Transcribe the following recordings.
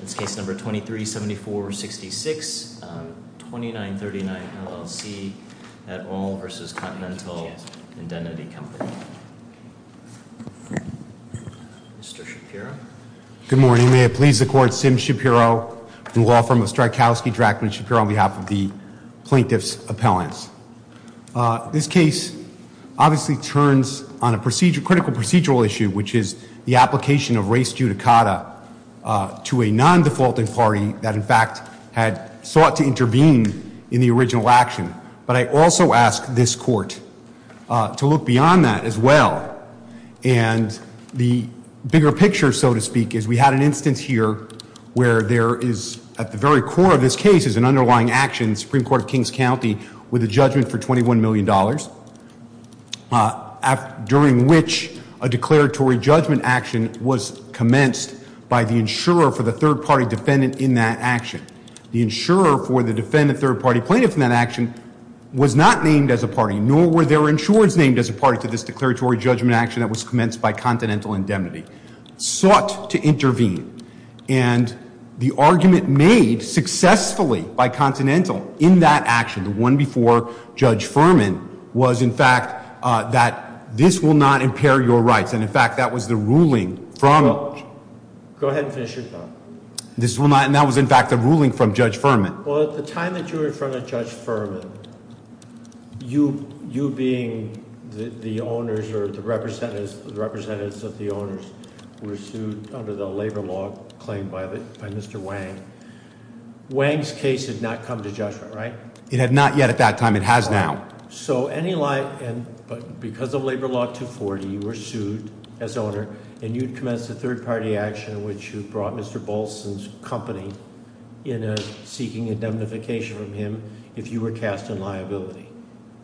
That's case number 237466, 2939, LLC at all versus Continental Indemnity Company. Mr. Shapiro? Good morning, may it please the court, Sim Shapiro from the law firm of Strykowski-Drachman Shapiro on behalf of the plaintiff's appellants. This case obviously turns on a critical procedural issue, which is the application of race judicata to a non-defaulting party that in fact had sought to intervene in the original action. But I also ask this court to look beyond that as well. And the bigger picture, so to speak, is we had an instance here where there is, at the very core of this case, is an underlying action, Supreme Court of Kings County, with a judgment for $21 million. During which a declaratory judgment action was commenced by the insurer for the third party defendant in that action. The insurer for the defendant third party plaintiff in that action was not named as a party, nor were there insurers named as a party to this declaratory judgment action that was commenced by Continental Indemnity, sought to intervene. And the argument made successfully by Continental in that action, the one before Judge Furman, was in fact that this will not impair your rights. And in fact, that was the ruling from- Go ahead and finish your thought. This will not, and that was in fact the ruling from Judge Furman. Well, at the time that you were in front of Judge Furman, you being the owners or the representatives of the owners were sued under the labor law claim by Mr. Wang. Wang's case had not come to judgment, right? It had not yet at that time, it has now. So, because of Labor Law 240, you were sued as owner, and you'd commenced a third party action in which you brought Mr. Bolson's company in seeking indemnification from him if you were cast in liability,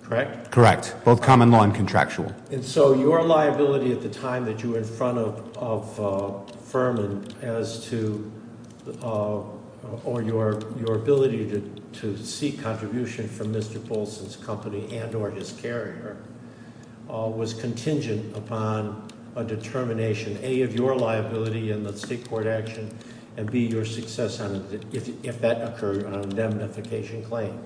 correct? Correct, both common law and contractual. And so, your liability at the time that you were in front of Furman as to, or your ability to seek contribution from Mr. Bolson's company and or his carrier was contingent upon a determination, A, of your liability in the state court action, and B, your success if that occurred on an indemnification claim,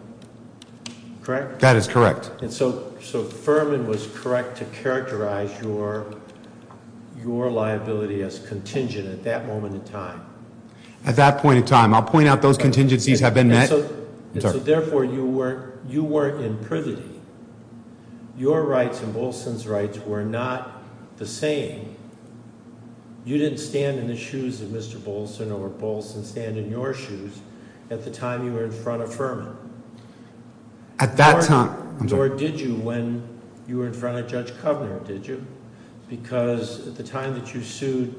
correct? That is correct. And so, Furman was correct to characterize your liability as contingent at that moment in time. At that point in time. I'll point out those contingencies have been met. And so, therefore, you weren't in privity. Your rights and Bolson's rights were not the same. You didn't stand in the shoes of Mr. Bolson or Bolson stand in your shoes at the time you were in front of Furman. At that time, I'm sorry. Nor did you when you were in front of Judge Kovner, did you? Because at the time that you sued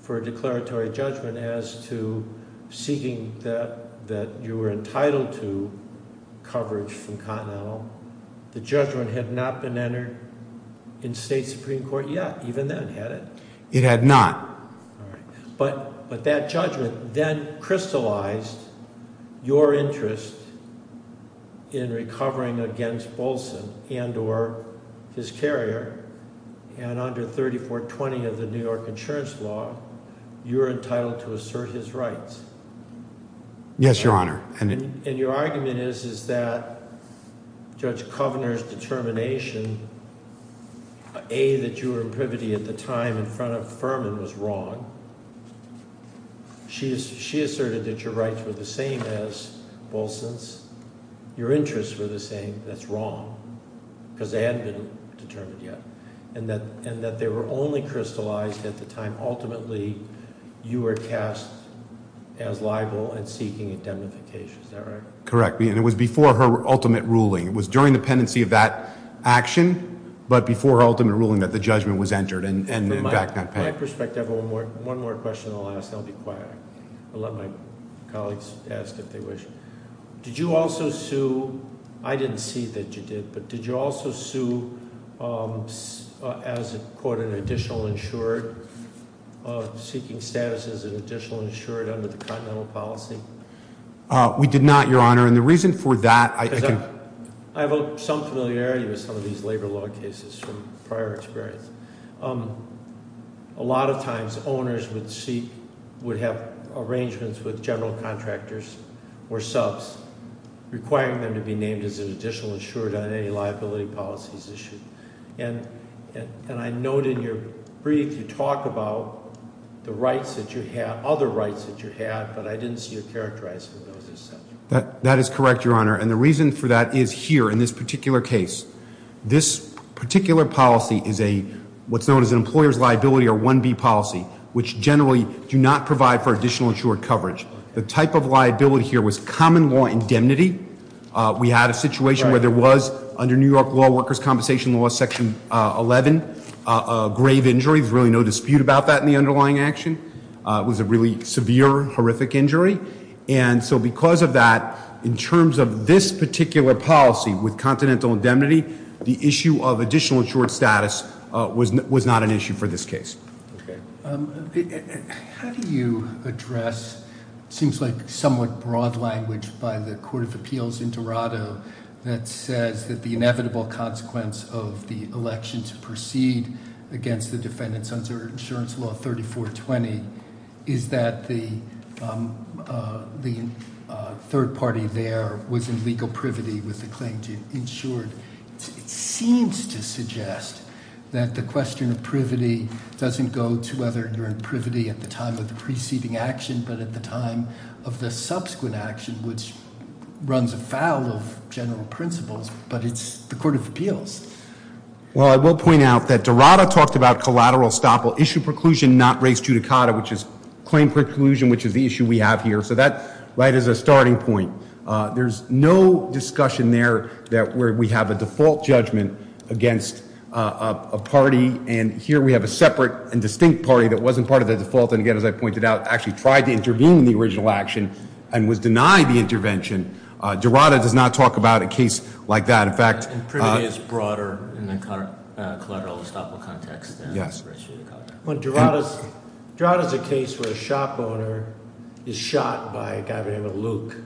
for a declaratory judgment as to seeking that you were entitled to coverage from Continental, the judgment had not been entered in state supreme court yet, even then, had it? It had not. All right, but that judgment then crystallized your interest in recovering against Bolson and or his carrier, and under 3420 of the New York insurance law, you're entitled to assert his rights. Yes, your honor. And your argument is that Judge Kovner's determination, A, that you were in privity at the time in front of Furman was wrong. She asserted that your rights were the same as Bolson's. Your interests were the same. That's wrong. because they hadn't been determined yet. And that they were only crystallized at the time, ultimately, you were cast as liable and seeking indemnification, is that right? Correct, and it was before her ultimate ruling. It was during the pendency of that action, but before her ultimate ruling, that the judgment was entered, and in fact not pending. From my perspective, one more question, and I'll ask, and I'll be quiet. I'll let my colleagues ask if they wish. Did you also sue, I didn't see that you did, but did you also sue as a court an additional insured, seeking status as an additional insured under the continental policy? We did not, your honor. And the reason for that, I think. I have some familiarity with some of these labor law cases from prior experience. A lot of times, owners would seek, would have arrangements with general contractors or subs. Requiring them to be named as an additional insured on any liability policies issued. And I note in your brief, you talk about the rights that you had, other rights that you had, but I didn't see you characterizing those as such. That is correct, your honor. And the reason for that is here, in this particular case. This particular policy is a, what's known as an employer's liability or 1B policy, which generally do not provide for additional insured coverage. The type of liability here was common law indemnity. We had a situation where there was, under New York Law Workers' Compensation Law section 11, a grave injury. There's really no dispute about that in the underlying action. It was a really severe, horrific injury. And so because of that, in terms of this particular policy with continental indemnity, the issue of additional insured status was not an issue for this case. Okay. How do you address, it seems like somewhat broad language by the Court of Appeals in Dorado, that says that the inevitable consequence of the election to proceed against the defendants under insurance law 3420. Is that the third party there was in legal privity with the claim to insured. It seems to suggest that the question of privity doesn't go to whether you're in privity at the time of the preceding action. But at the time of the subsequent action, which runs afoul of general principles, but it's the Court of Appeals. Well, I will point out that Dorado talked about collateral estoppel, issue preclusion, not res judicata, which is claim preclusion, which is the issue we have here. So that, right, is a starting point. There's no discussion there where we have a default judgment against a party. And here we have a separate and distinct party that wasn't part of the default, and again, as I pointed out, actually tried to intervene in the original action and was denied the intervention. Dorado does not talk about a case like that. In fact- And privity is broader in the collateral estoppel context than- When Dorado's, Dorado's a case where a shop owner is shot by a guy by the name of Luke.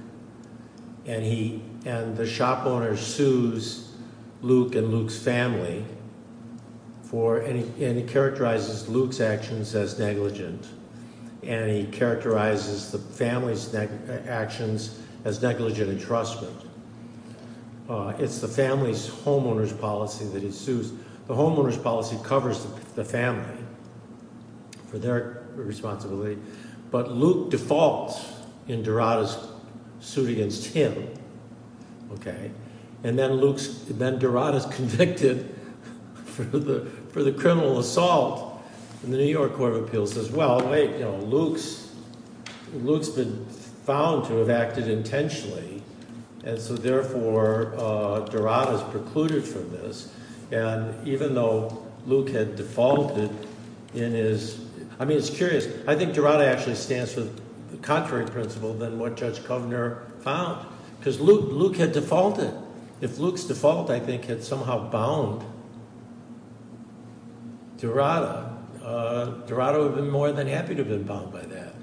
And he, and the shop owner sues Luke and Luke's family for, and he characterizes Luke's actions as negligent. And he characterizes the family's actions as negligent entrustment. It's the family's homeowner's policy that he sues. The homeowner's policy covers the family for their responsibility. But Luke defaults in Dorado's suit against him, okay? And then Luke's, then Dorado's convicted for the criminal assault. And the New York Court of Appeals says, well, wait, you know, Luke's been found to have acted intentionally, and so therefore Dorado's precluded from this. And even though Luke had defaulted in his, I mean, it's curious. I think Dorado actually stands for the contrary principle than what Judge Kovner found. because Luke had defaulted. If Luke's default, I think, had somehow bound Dorado, Dorado would have been more than happy to have been bound by that.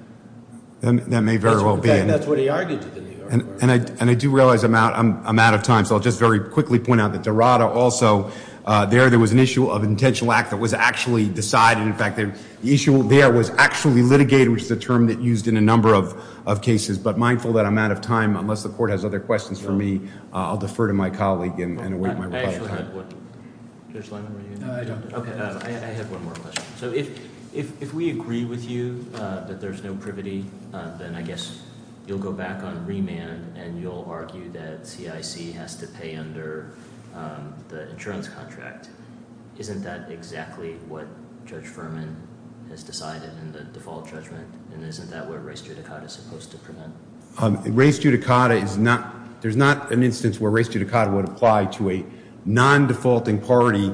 That may very well be. And that's what he argued to the New York Court. And I do realize I'm out of time, so I'll just very quickly point out that Dorado also, there there was an issue of intentional act that was actually decided. In fact, the issue there was actually litigated, which is a term that's used in a number of cases. But mindful that I'm out of time, unless the court has other questions for me, I'll defer to my colleague and await my rebuttal. I actually have one. Judge Lyman, were you going to? No, I don't. Okay, I have one more question. So if we agree with you that there's no privity, then I guess you'll go back on remand and you'll argue that CIC has to pay under the insurance contract. Isn't that exactly what Judge Furman has decided in the default judgment? And isn't that what race judicata is supposed to prevent? Race judicata is not, there's not an instance where race judicata would apply to a non-defaulting party,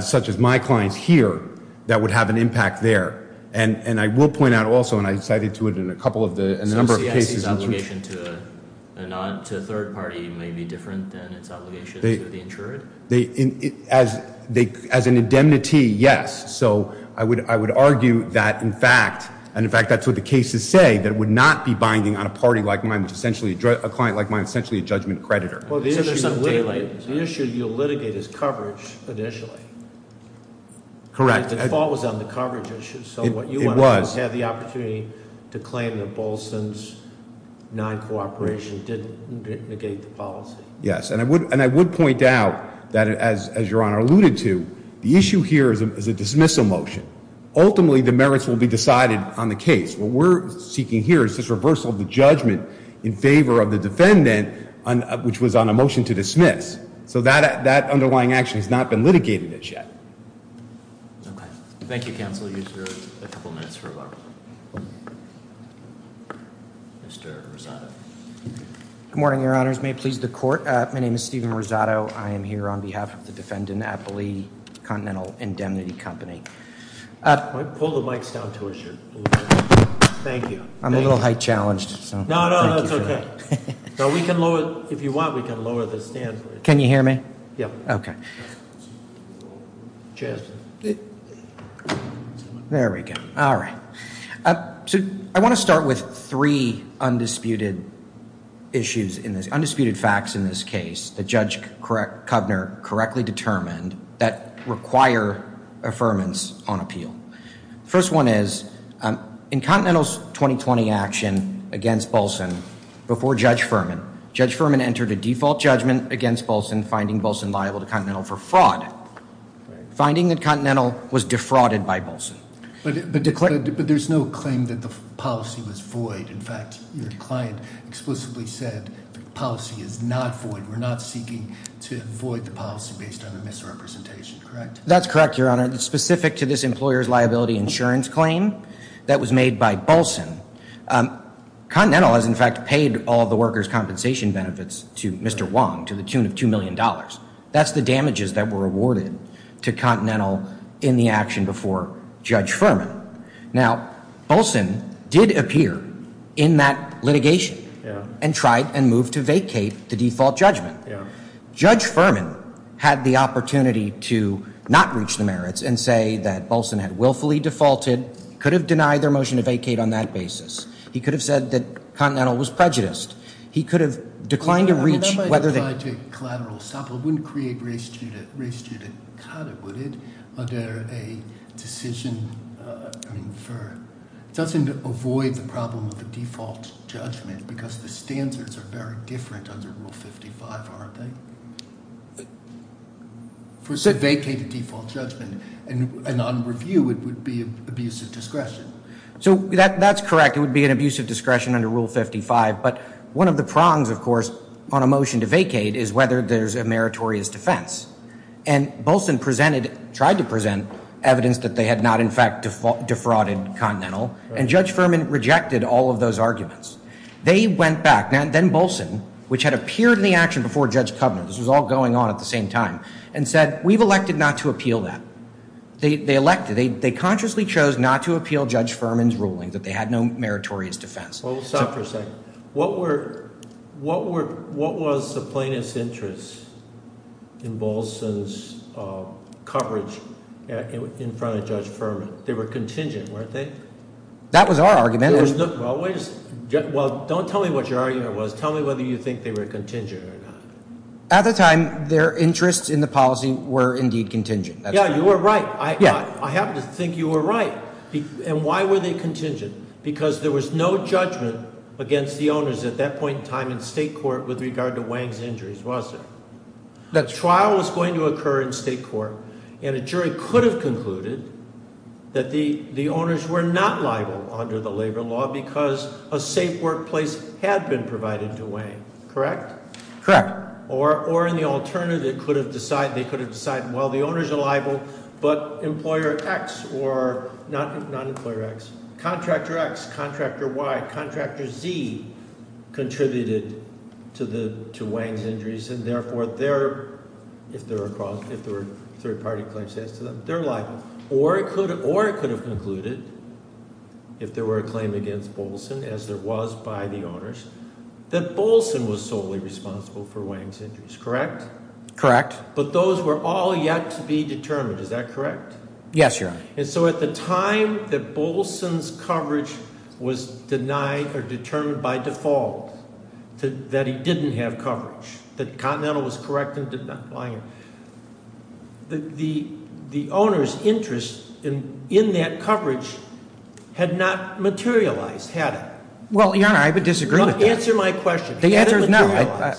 such as my clients here, that would have an impact there. And I will point out also, and I cited to it in a couple of the, in a number of cases- So CIC's obligation to a third party may be different than its obligation to the insured? As an indemnity, yes. So I would argue that in fact, and in fact that's what the cases say, that it would not be binding on a party like mine, which essentially, a client like mine, essentially a judgment creditor. Well, the issue you litigate is coverage, initially. Correct. The default was on the coverage issue. So what you want to do is have the opportunity to claim that Bolson's non-cooperation didn't negate the policy. Yes, and I would point out that, as your honor alluded to, the issue here is a dismissal motion. Ultimately, the merits will be decided on the case. What we're seeking here is this reversal of the judgment in favor of the defendant, which was on a motion to dismiss. So that underlying action has not been litigated as yet. Okay, thank you counsel, you have a couple of minutes for rebuttal. Mr. Rosado. Good morning, your honors. May it please the court. My name is Steven Rosado. I am here on behalf of the defendant, Appley Continental Indemnity Company. Pull the mics down to us here, thank you. I'm a little height challenged, so. No, no, that's okay. So we can lower, if you want, we can lower the stand. Can you hear me? Yeah. Okay. Chance. There we go. All right, so I want to start with three undisputed issues in this, undisputed facts in this case that Judge Kovner correctly determined that require affirmance on appeal. First one is, in Continental's 2020 action against Bolson, before Judge Furman. Judge Furman entered a default judgment against Bolson, finding Bolson liable to Continental for fraud. Finding that Continental was defrauded by Bolson. But there's no claim that the policy was void. In fact, your client explicitly said the policy is not void. We're not seeking to void the policy based on a misrepresentation, correct? That's correct, your honor. It's specific to this employer's liability insurance claim that was made by Bolson. Continental has, in fact, paid all the workers' compensation benefits to Mr. Wong to the tune of $2 million. That's the damages that were awarded to Continental in the action before Judge Furman. Now, Bolson did appear in that litigation and tried and moved to vacate the default judgment. Judge Furman had the opportunity to not reach the merits and say that Bolson had willfully defaulted, could have denied their motion to vacate on that basis. He could have said that Continental was prejudiced. He could have declined to reach whether they- It wouldn't create a collateral stop, it wouldn't create race judicata, would it? Under a decision, I mean, doesn't it avoid the problem of the default judgment because the standards are very different under Rule 55, aren't they? For said vacated default judgment, and on review, it would be an abuse of discretion. So that's correct, it would be an abuse of discretion under Rule 55, but one of the prongs, of course, on a motion to vacate is whether there's a meritorious defense. And Bolson tried to present evidence that they had not, in fact, defrauded Continental. And Judge Furman rejected all of those arguments. They went back, then Bolson, which had appeared in the action before Judge Covenant, this was all going on at the same time, and said, we've elected not to appeal that. They elected, they consciously chose not to appeal Judge Furman's ruling, that they had no meritorious defense. Well, stop for a second. What was the plaintiff's interest in Bolson's coverage in front of Judge Furman? They were contingent, weren't they? That was our argument. Well, don't tell me what your argument was. Tell me whether you think they were contingent or not. At the time, their interests in the policy were indeed contingent. Yeah, you were right. I happen to think you were right. And why were they contingent? Because there was no judgment against the owners at that point in time in state court with regard to Wang's injuries, was there? The trial was going to occur in state court, and a jury could have concluded that the owners were not liable under the labor law because a safe workplace had been provided to Wang, correct? Correct. Or in the alternative, they could have decided, well, the owners are liable, but Contractor X or, not Employer X, Contractor X, Contractor Y, Contractor Z contributed to Wang's injuries. And therefore, if there were third party claims to them, they're liable. Or it could have concluded, if there were a claim against Bolson, as there was by the owners, that Bolson was solely responsible for Wang's injuries, correct? Correct. But those were all yet to be determined, is that correct? Yes, Your Honor. And so at the time that Bolson's coverage was denied or determined by default, that he didn't have coverage, that Continental was correct in denying him, the owner's interest in that coverage had not materialized, had it? Well, Your Honor, I would disagree with that. Answer my question. The answer is no,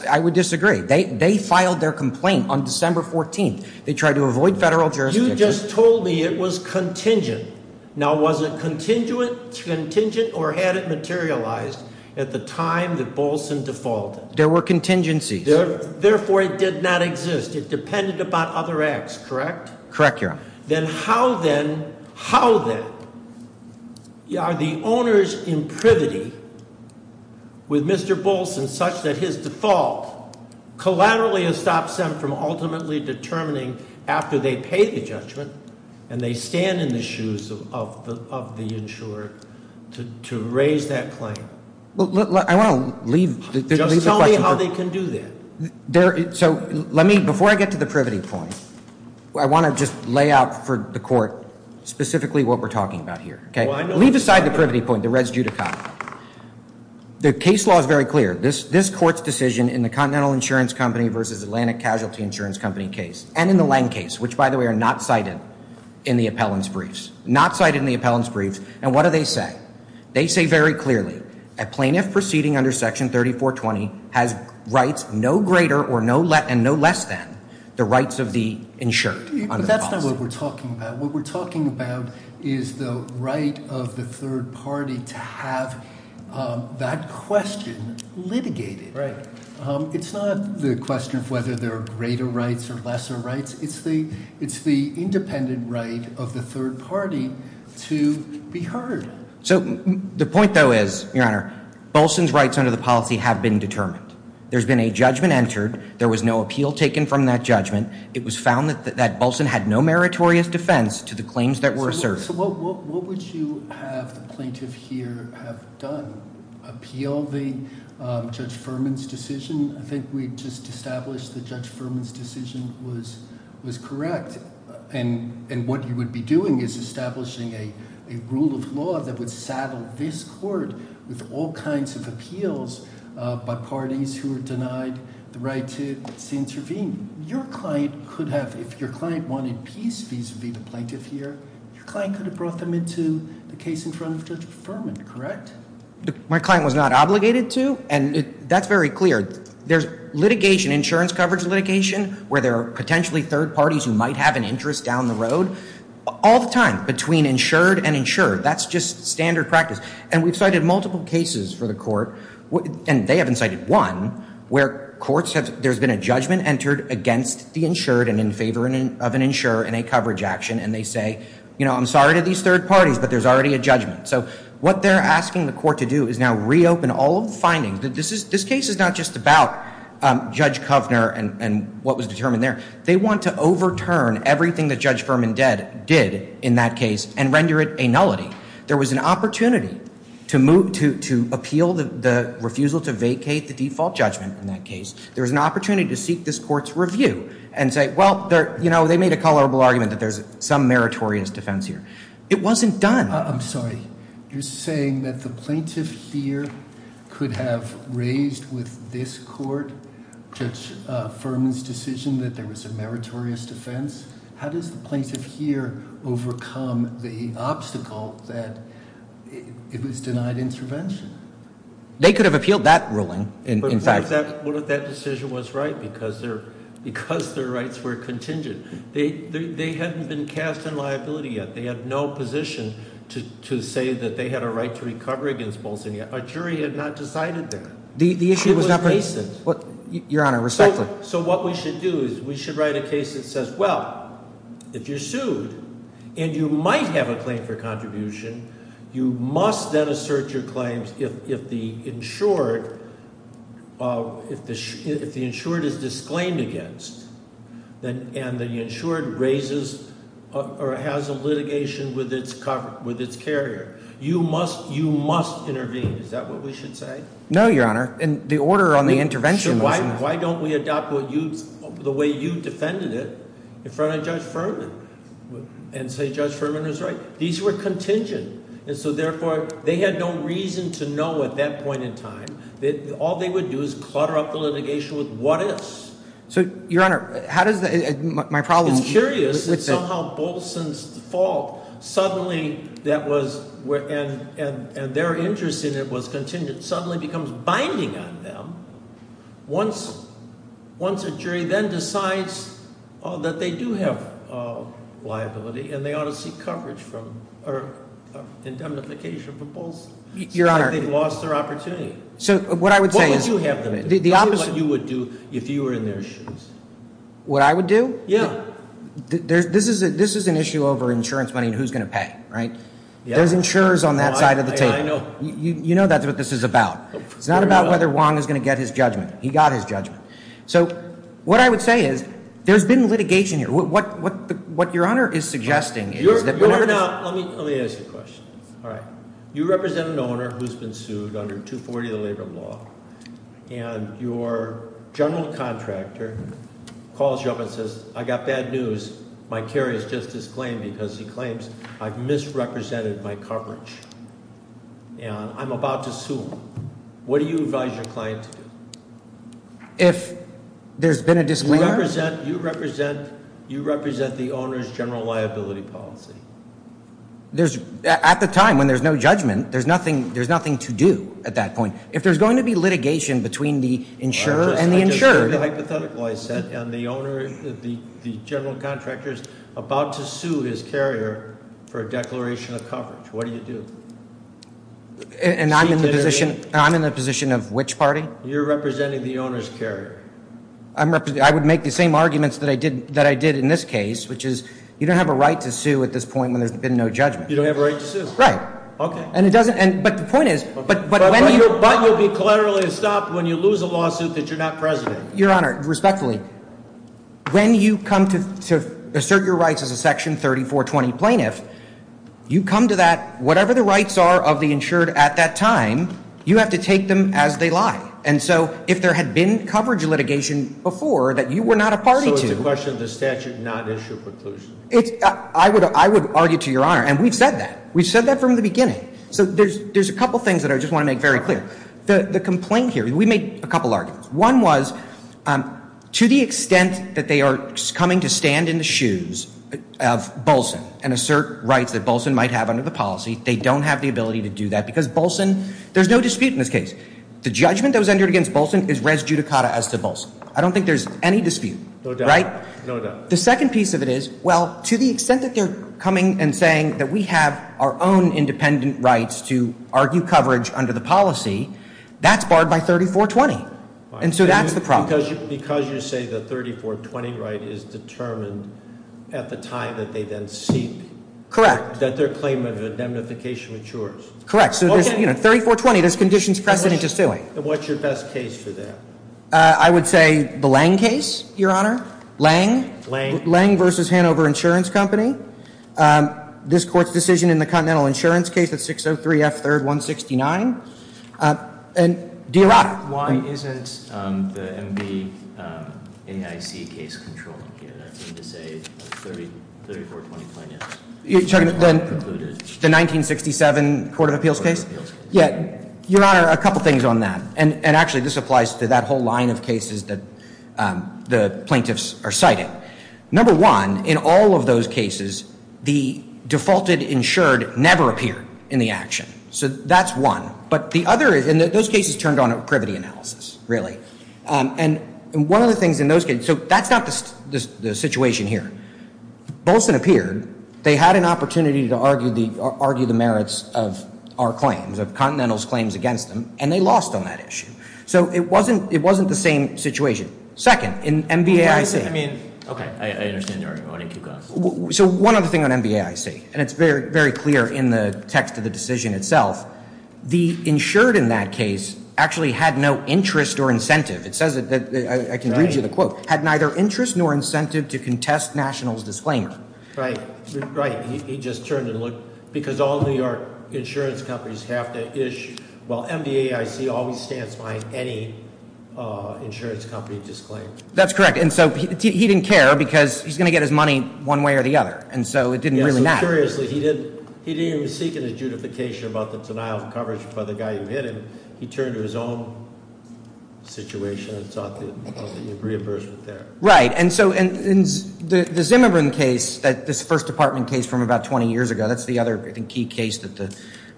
I would disagree. They filed their complaint on December 14th. They tried to avoid federal jurisdiction. You just told me it was contingent. Now, was it contingent or had it materialized at the time that Bolson defaulted? There were contingencies. Therefore, it did not exist. It depended upon other acts, correct? Correct, Your Honor. Then how then, how then, are the owners imprivity with Mr. Bolson such that his default collaterally stops them from ultimately determining after they pay the judgment and they stand in the shoes of the insurer to raise that claim? Well, I want to leave the question- Just tell me how they can do that. So let me, before I get to the privity point, I want to just lay out for the court specifically what we're talking about here, okay? Leave aside the privity point, the res judicata. The case law is very clear. This court's decision in the Continental Insurance Company versus Atlantic Casualty Insurance Company case, and in the Lange case, which by the way are not cited in the appellant's briefs, not cited in the appellant's briefs. And what do they say? They say very clearly, a plaintiff proceeding under section 3420 has rights no greater or no less than the rights of the insured under the policy. That's not what we're talking about. What we're talking about is the right of the third party to have that question litigated. It's not the question of whether there are greater rights or lesser rights. It's the independent right of the third party to be heard. So the point though is, your honor, Bolson's rights under the policy have been determined. There's been a judgment entered. There was no appeal taken from that judgment. It was found that Bolson had no meritorious defense to the claims that were asserted. So what would you have the plaintiff here have done? Appeal the Judge Furman's decision? I think we just established that Judge Furman's decision was correct. And what you would be doing is establishing a rule of law that would saddle this court with all kinds of appeals by parties who are denied the right to intervene. Your client could have, if your client wanted peace vis-a-vis the plaintiff here, your client could have brought them into the case in front of Judge Furman, correct? My client was not obligated to, and that's very clear. There's litigation, insurance coverage litigation, where there are potentially third parties who might have an interest down the road. All the time, between insured and insured, that's just standard practice. And we've cited multiple cases for the court, and they haven't cited one, where courts have, there's been a judgment entered against the insured and in favor of an insurer in a coverage action. And they say, I'm sorry to these third parties, but there's already a judgment. So what they're asking the court to do is now reopen all of the findings. This case is not just about Judge Kovner and what was determined there. They want to overturn everything that Judge Furman did in that case and render it a nullity. There was an opportunity to appeal the refusal to vacate the default judgment in that case. There was an opportunity to seek this court's review and say, well, they made a colorable argument that there's some meritorious defense here. It wasn't done. I'm sorry. You're saying that the plaintiff here could have raised with this court, Judge Furman's decision that there was a meritorious defense. How does the plaintiff here overcome the obstacle that it was denied intervention? They could have appealed that ruling, in fact. But what if that decision was right because their rights were contingent? They hadn't been cast in liability yet. They had no position to say that they had a right to recover against Bolson yet. Our jury had not decided that. The issue was not- It was recent. Your Honor, respectfully. So what we should do is we should write a case that says, well, if you're sued and you might have a claim for contribution, you must then assert your claims if the insured, if the insured is disclaimed against and the insured raises or has a litigation with its carrier. You must intervene. Is that what we should say? No, Your Honor. And the order on the intervention- Why don't we adopt the way you defended it in front of Judge Furman and say Judge Furman was right? These were contingent, and so therefore, they had no reason to know at that point in time. All they would do is clutter up the litigation with what ifs. So, Your Honor, how does the, my problem- It's curious that somehow Bolson's fault suddenly that was, and their interest in it was contingent, suddenly becomes binding on them. Once a jury then decides that they do have liability and they ought to seek coverage for indemnification for Bolson, they've lost their opportunity. So, what I would say is- What would you have them do, what you would do if you were in their shoes? What I would do? Yeah. This is an issue over insurance money and who's going to pay, right? There's insurers on that side of the table. You know that's what this is about. It's not about whether Wong is going to get his judgment. He got his judgment. So, what I would say is, there's been litigation here. What Your Honor is suggesting is that- Your Honor, now, let me ask you a question. All right. You represent an owner who's been sued under 240 of the labor law, and your general contractor calls you up and says, I got bad news. My carry is just disclaimed because he claims I've misrepresented my coverage. And I'm about to sue him. What do you advise your client to do? If there's been a disclaimer- You represent the owner's general liability policy. There's, at the time when there's no judgment, there's nothing to do at that point. If there's going to be litigation between the insurer and the insured- I just heard the hypothetical I said, and the general contractor's about to sue his carrier for a declaration of coverage. What do you do? And I'm in the position of which party? You're representing the owner's carrier. I would make the same arguments that I did in this case, which is, you don't have a right to sue at this point when there's been no judgment. You don't have a right to sue. Right. Okay. And it doesn't, but the point is- But you'll be collaterally stopped when you lose a lawsuit that you're not president. Your Honor, respectfully, when you come to assert your rights as a section 3420 plaintiff, you come to that, whatever the rights are of the insured at that time, you have to take them as they lie. And so, if there had been coverage litigation before that you were not a party to- So it's a question of the statute, not issue of preclusion. I would argue to your honor, and we've said that. We've said that from the beginning. So there's a couple things that I just want to make very clear. The complaint here, we made a couple arguments. One was, to the extent that they are coming to stand in the shoes of Bolson and assert rights that Bolson might have under the policy, they don't have the ability to do that. Because Bolson, there's no dispute in this case. The judgment that was entered against Bolson is res judicata as to Bolson. I don't think there's any dispute. No doubt, no doubt. The second piece of it is, well, to the extent that they're coming and saying that we have our own independent rights to argue coverage under the policy, that's barred by 3420. And so that's the problem. Because you say the 3420 right is determined at the time that they then seep. Correct. That their claim of indemnification matures. Correct. So there's 3420, there's conditions precedent to suing. And what's your best case for that? I would say the Lange case, your honor. Lange. Lange. Lange versus Hanover Insurance Company. This court's decision in the Continental Insurance case, that's 603 F 3rd 169. And do you have- Why isn't the MB AIC case controlled here? That's going to say 3420 plaintiffs. You're talking about the 1967 Court of Appeals case? Yeah, your honor, a couple things on that. And actually, this applies to that whole line of cases that the plaintiffs are citing. Number one, in all of those cases, the defaulted insured never appear in the action. So that's one. But the other is, in those cases, turned on a privity analysis, really. And one of the things in those cases, so that's not the situation here. Bolson appeared, they had an opportunity to argue the merits of our claims, of Continental's claims against them, and they lost on that issue. So it wasn't the same situation. Second, in MB AIC- I mean, okay, I understand your argument, I won't keep going. So one other thing on MB AIC. And it's very clear in the text of the decision itself. The insured in that case actually had no interest or incentive. It says that, I can read you the quote. Had neither interest nor incentive to contest national's disclaimer. Right, right, he just turned and looked. Because all New York insurance companies have to ish, well MB AIC always stands by any insurance company disclaimer. That's correct, and so he didn't care because he's going to get his money one way or the other. And so it didn't really matter. Curiously, he didn't even seek any judification about the denial of coverage by the guy who hit him. He turned to his own situation and thought that the reimbursement there. Right, and so the Zimmerman case, this first department case from about 20 years ago, that's the other, I think, key case that the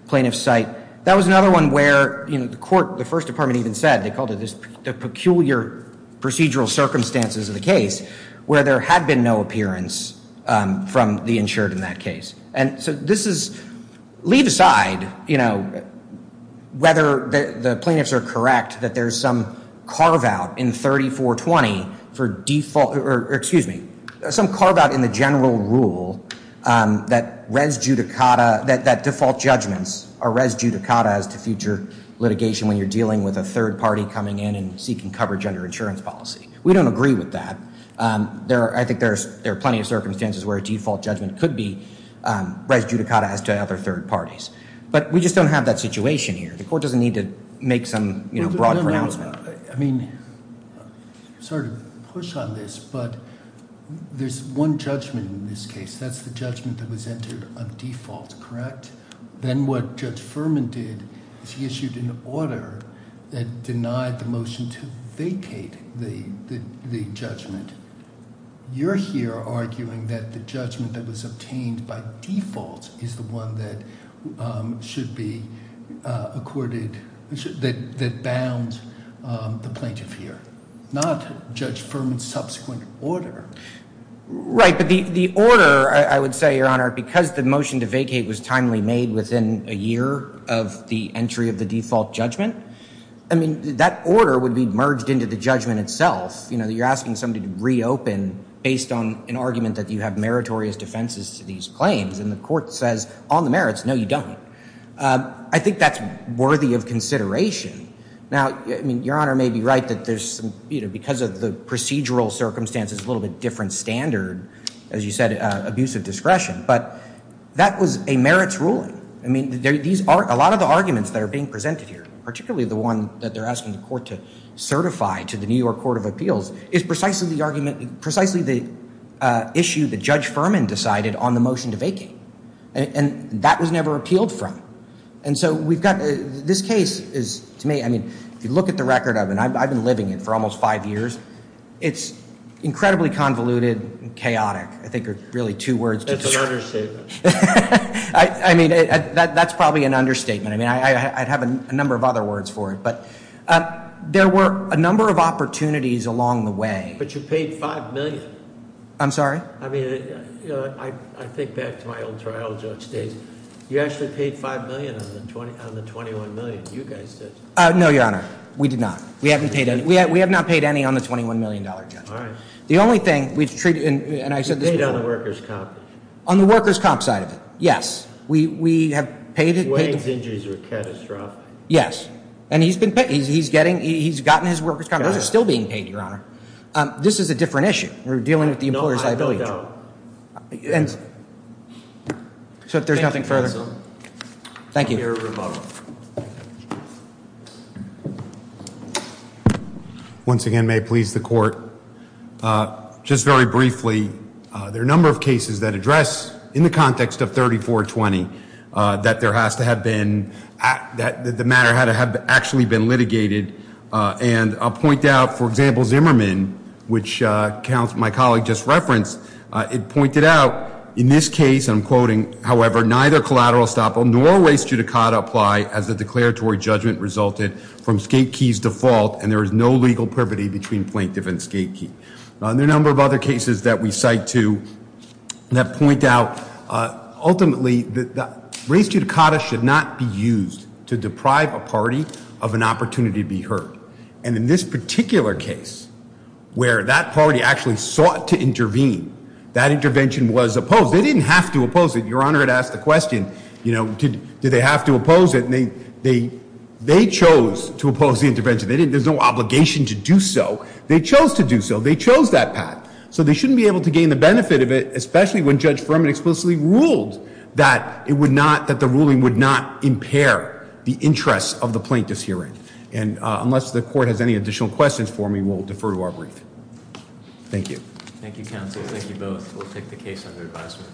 plaintiffs cite. That was another one where the court, the first department even said, they called it the peculiar procedural circumstances of the case. Where there had been no appearance from the insured in that case. And so this is, leave aside whether the plaintiffs are correct, that there's some carve out in 3420 for default, or excuse me. Some carve out in the general rule that res judicata, that default judgments are res judicata as to future litigation when you're dealing with a third party coming in and seeking coverage under insurance policy. We don't agree with that. I think there are plenty of circumstances where a default judgment could be res judicata as to other third parties. But we just don't have that situation here. The court doesn't need to make some broad pronouncement. I mean, sorry to push on this, but there's one judgment in this case. That's the judgment that was entered on default, correct? Then what Judge Furman did, is he issued an order that denied the motion to vacate the judgment. You're here arguing that the judgment that was obtained by default is the one that should be accorded, that bounds the plaintiff here. Not Judge Furman's subsequent order. Right, but the order, I would say, Your Honor, because the motion to vacate was timely made within a year of the entry of the default judgment. I mean, that order would be merged into the judgment itself. You're asking somebody to reopen based on an argument that you have meritorious defenses to these claims. And the court says, on the merits, no you don't. I think that's worthy of consideration. Now, I mean, Your Honor may be right that there's, because of the procedural circumstances, a little bit different standard, as you said, abuse of discretion, but that was a merits ruling. I mean, a lot of the arguments that are being presented here, particularly the one that they're asking the court to certify to the New York Court of Appeals, is precisely the argument, precisely the issue that Judge Furman decided on the motion to vacate. And that was never appealed from. And so we've got, this case is, to me, I mean, if you look at the record of it, and I've been living it for almost five years. It's incredibly convoluted and chaotic, I think are really two words. That's an understatement. I mean, that's probably an understatement. I mean, I'd have a number of other words for it, but there were a number of opportunities along the way. But you paid $5 million. I'm sorry? I mean, I think back to my old trial with Judge States. You actually paid $5 million on the $21 million, you guys did. No, Your Honor, we did not. We haven't paid any. We have not paid any on the $21 million, Judge. The only thing, we've treated, and I said this before. You paid on the workers' comp. On the workers' comp side of it, yes. We have paid it. Wayne's injuries were catastrophic. Yes, and he's gotten his workers' comp, those are still being paid, Your Honor. This is a different issue. We're dealing with the employer's liability. No, I have no doubt. And so if there's nothing further. Thank you. Your rebuttal. Once again, may it please the court. Just very briefly, there are a number of cases that address, in the context of 3420, that there has to have been, that the matter had to have actually been litigated. And I'll point out, for example, Zimmerman, which my colleague just referenced, it pointed out, in this case, I'm quoting, however, neither collateral estoppel nor race judicata apply as the declaratory judgment resulted from skate key's default, and there is no legal privity between plaintiff and skate key. There are a number of other cases that we cite too that point out, ultimately race judicata should not be used to deprive a party of an opportunity to be heard, and in this particular case, where that party actually sought to intervene. That intervention was opposed. They didn't have to oppose it. Your Honor had asked the question, did they have to oppose it, and they chose to oppose the intervention. There's no obligation to do so. They chose to do so. They chose that path. So they shouldn't be able to gain the benefit of it, especially when Judge Furman explicitly ruled that the ruling would not impair the interests of the plaintiff's hearing. And unless the court has any additional questions for me, we'll defer to our brief. Thank you. Thank you, counsel. Thank you both. We'll take the case under advisement.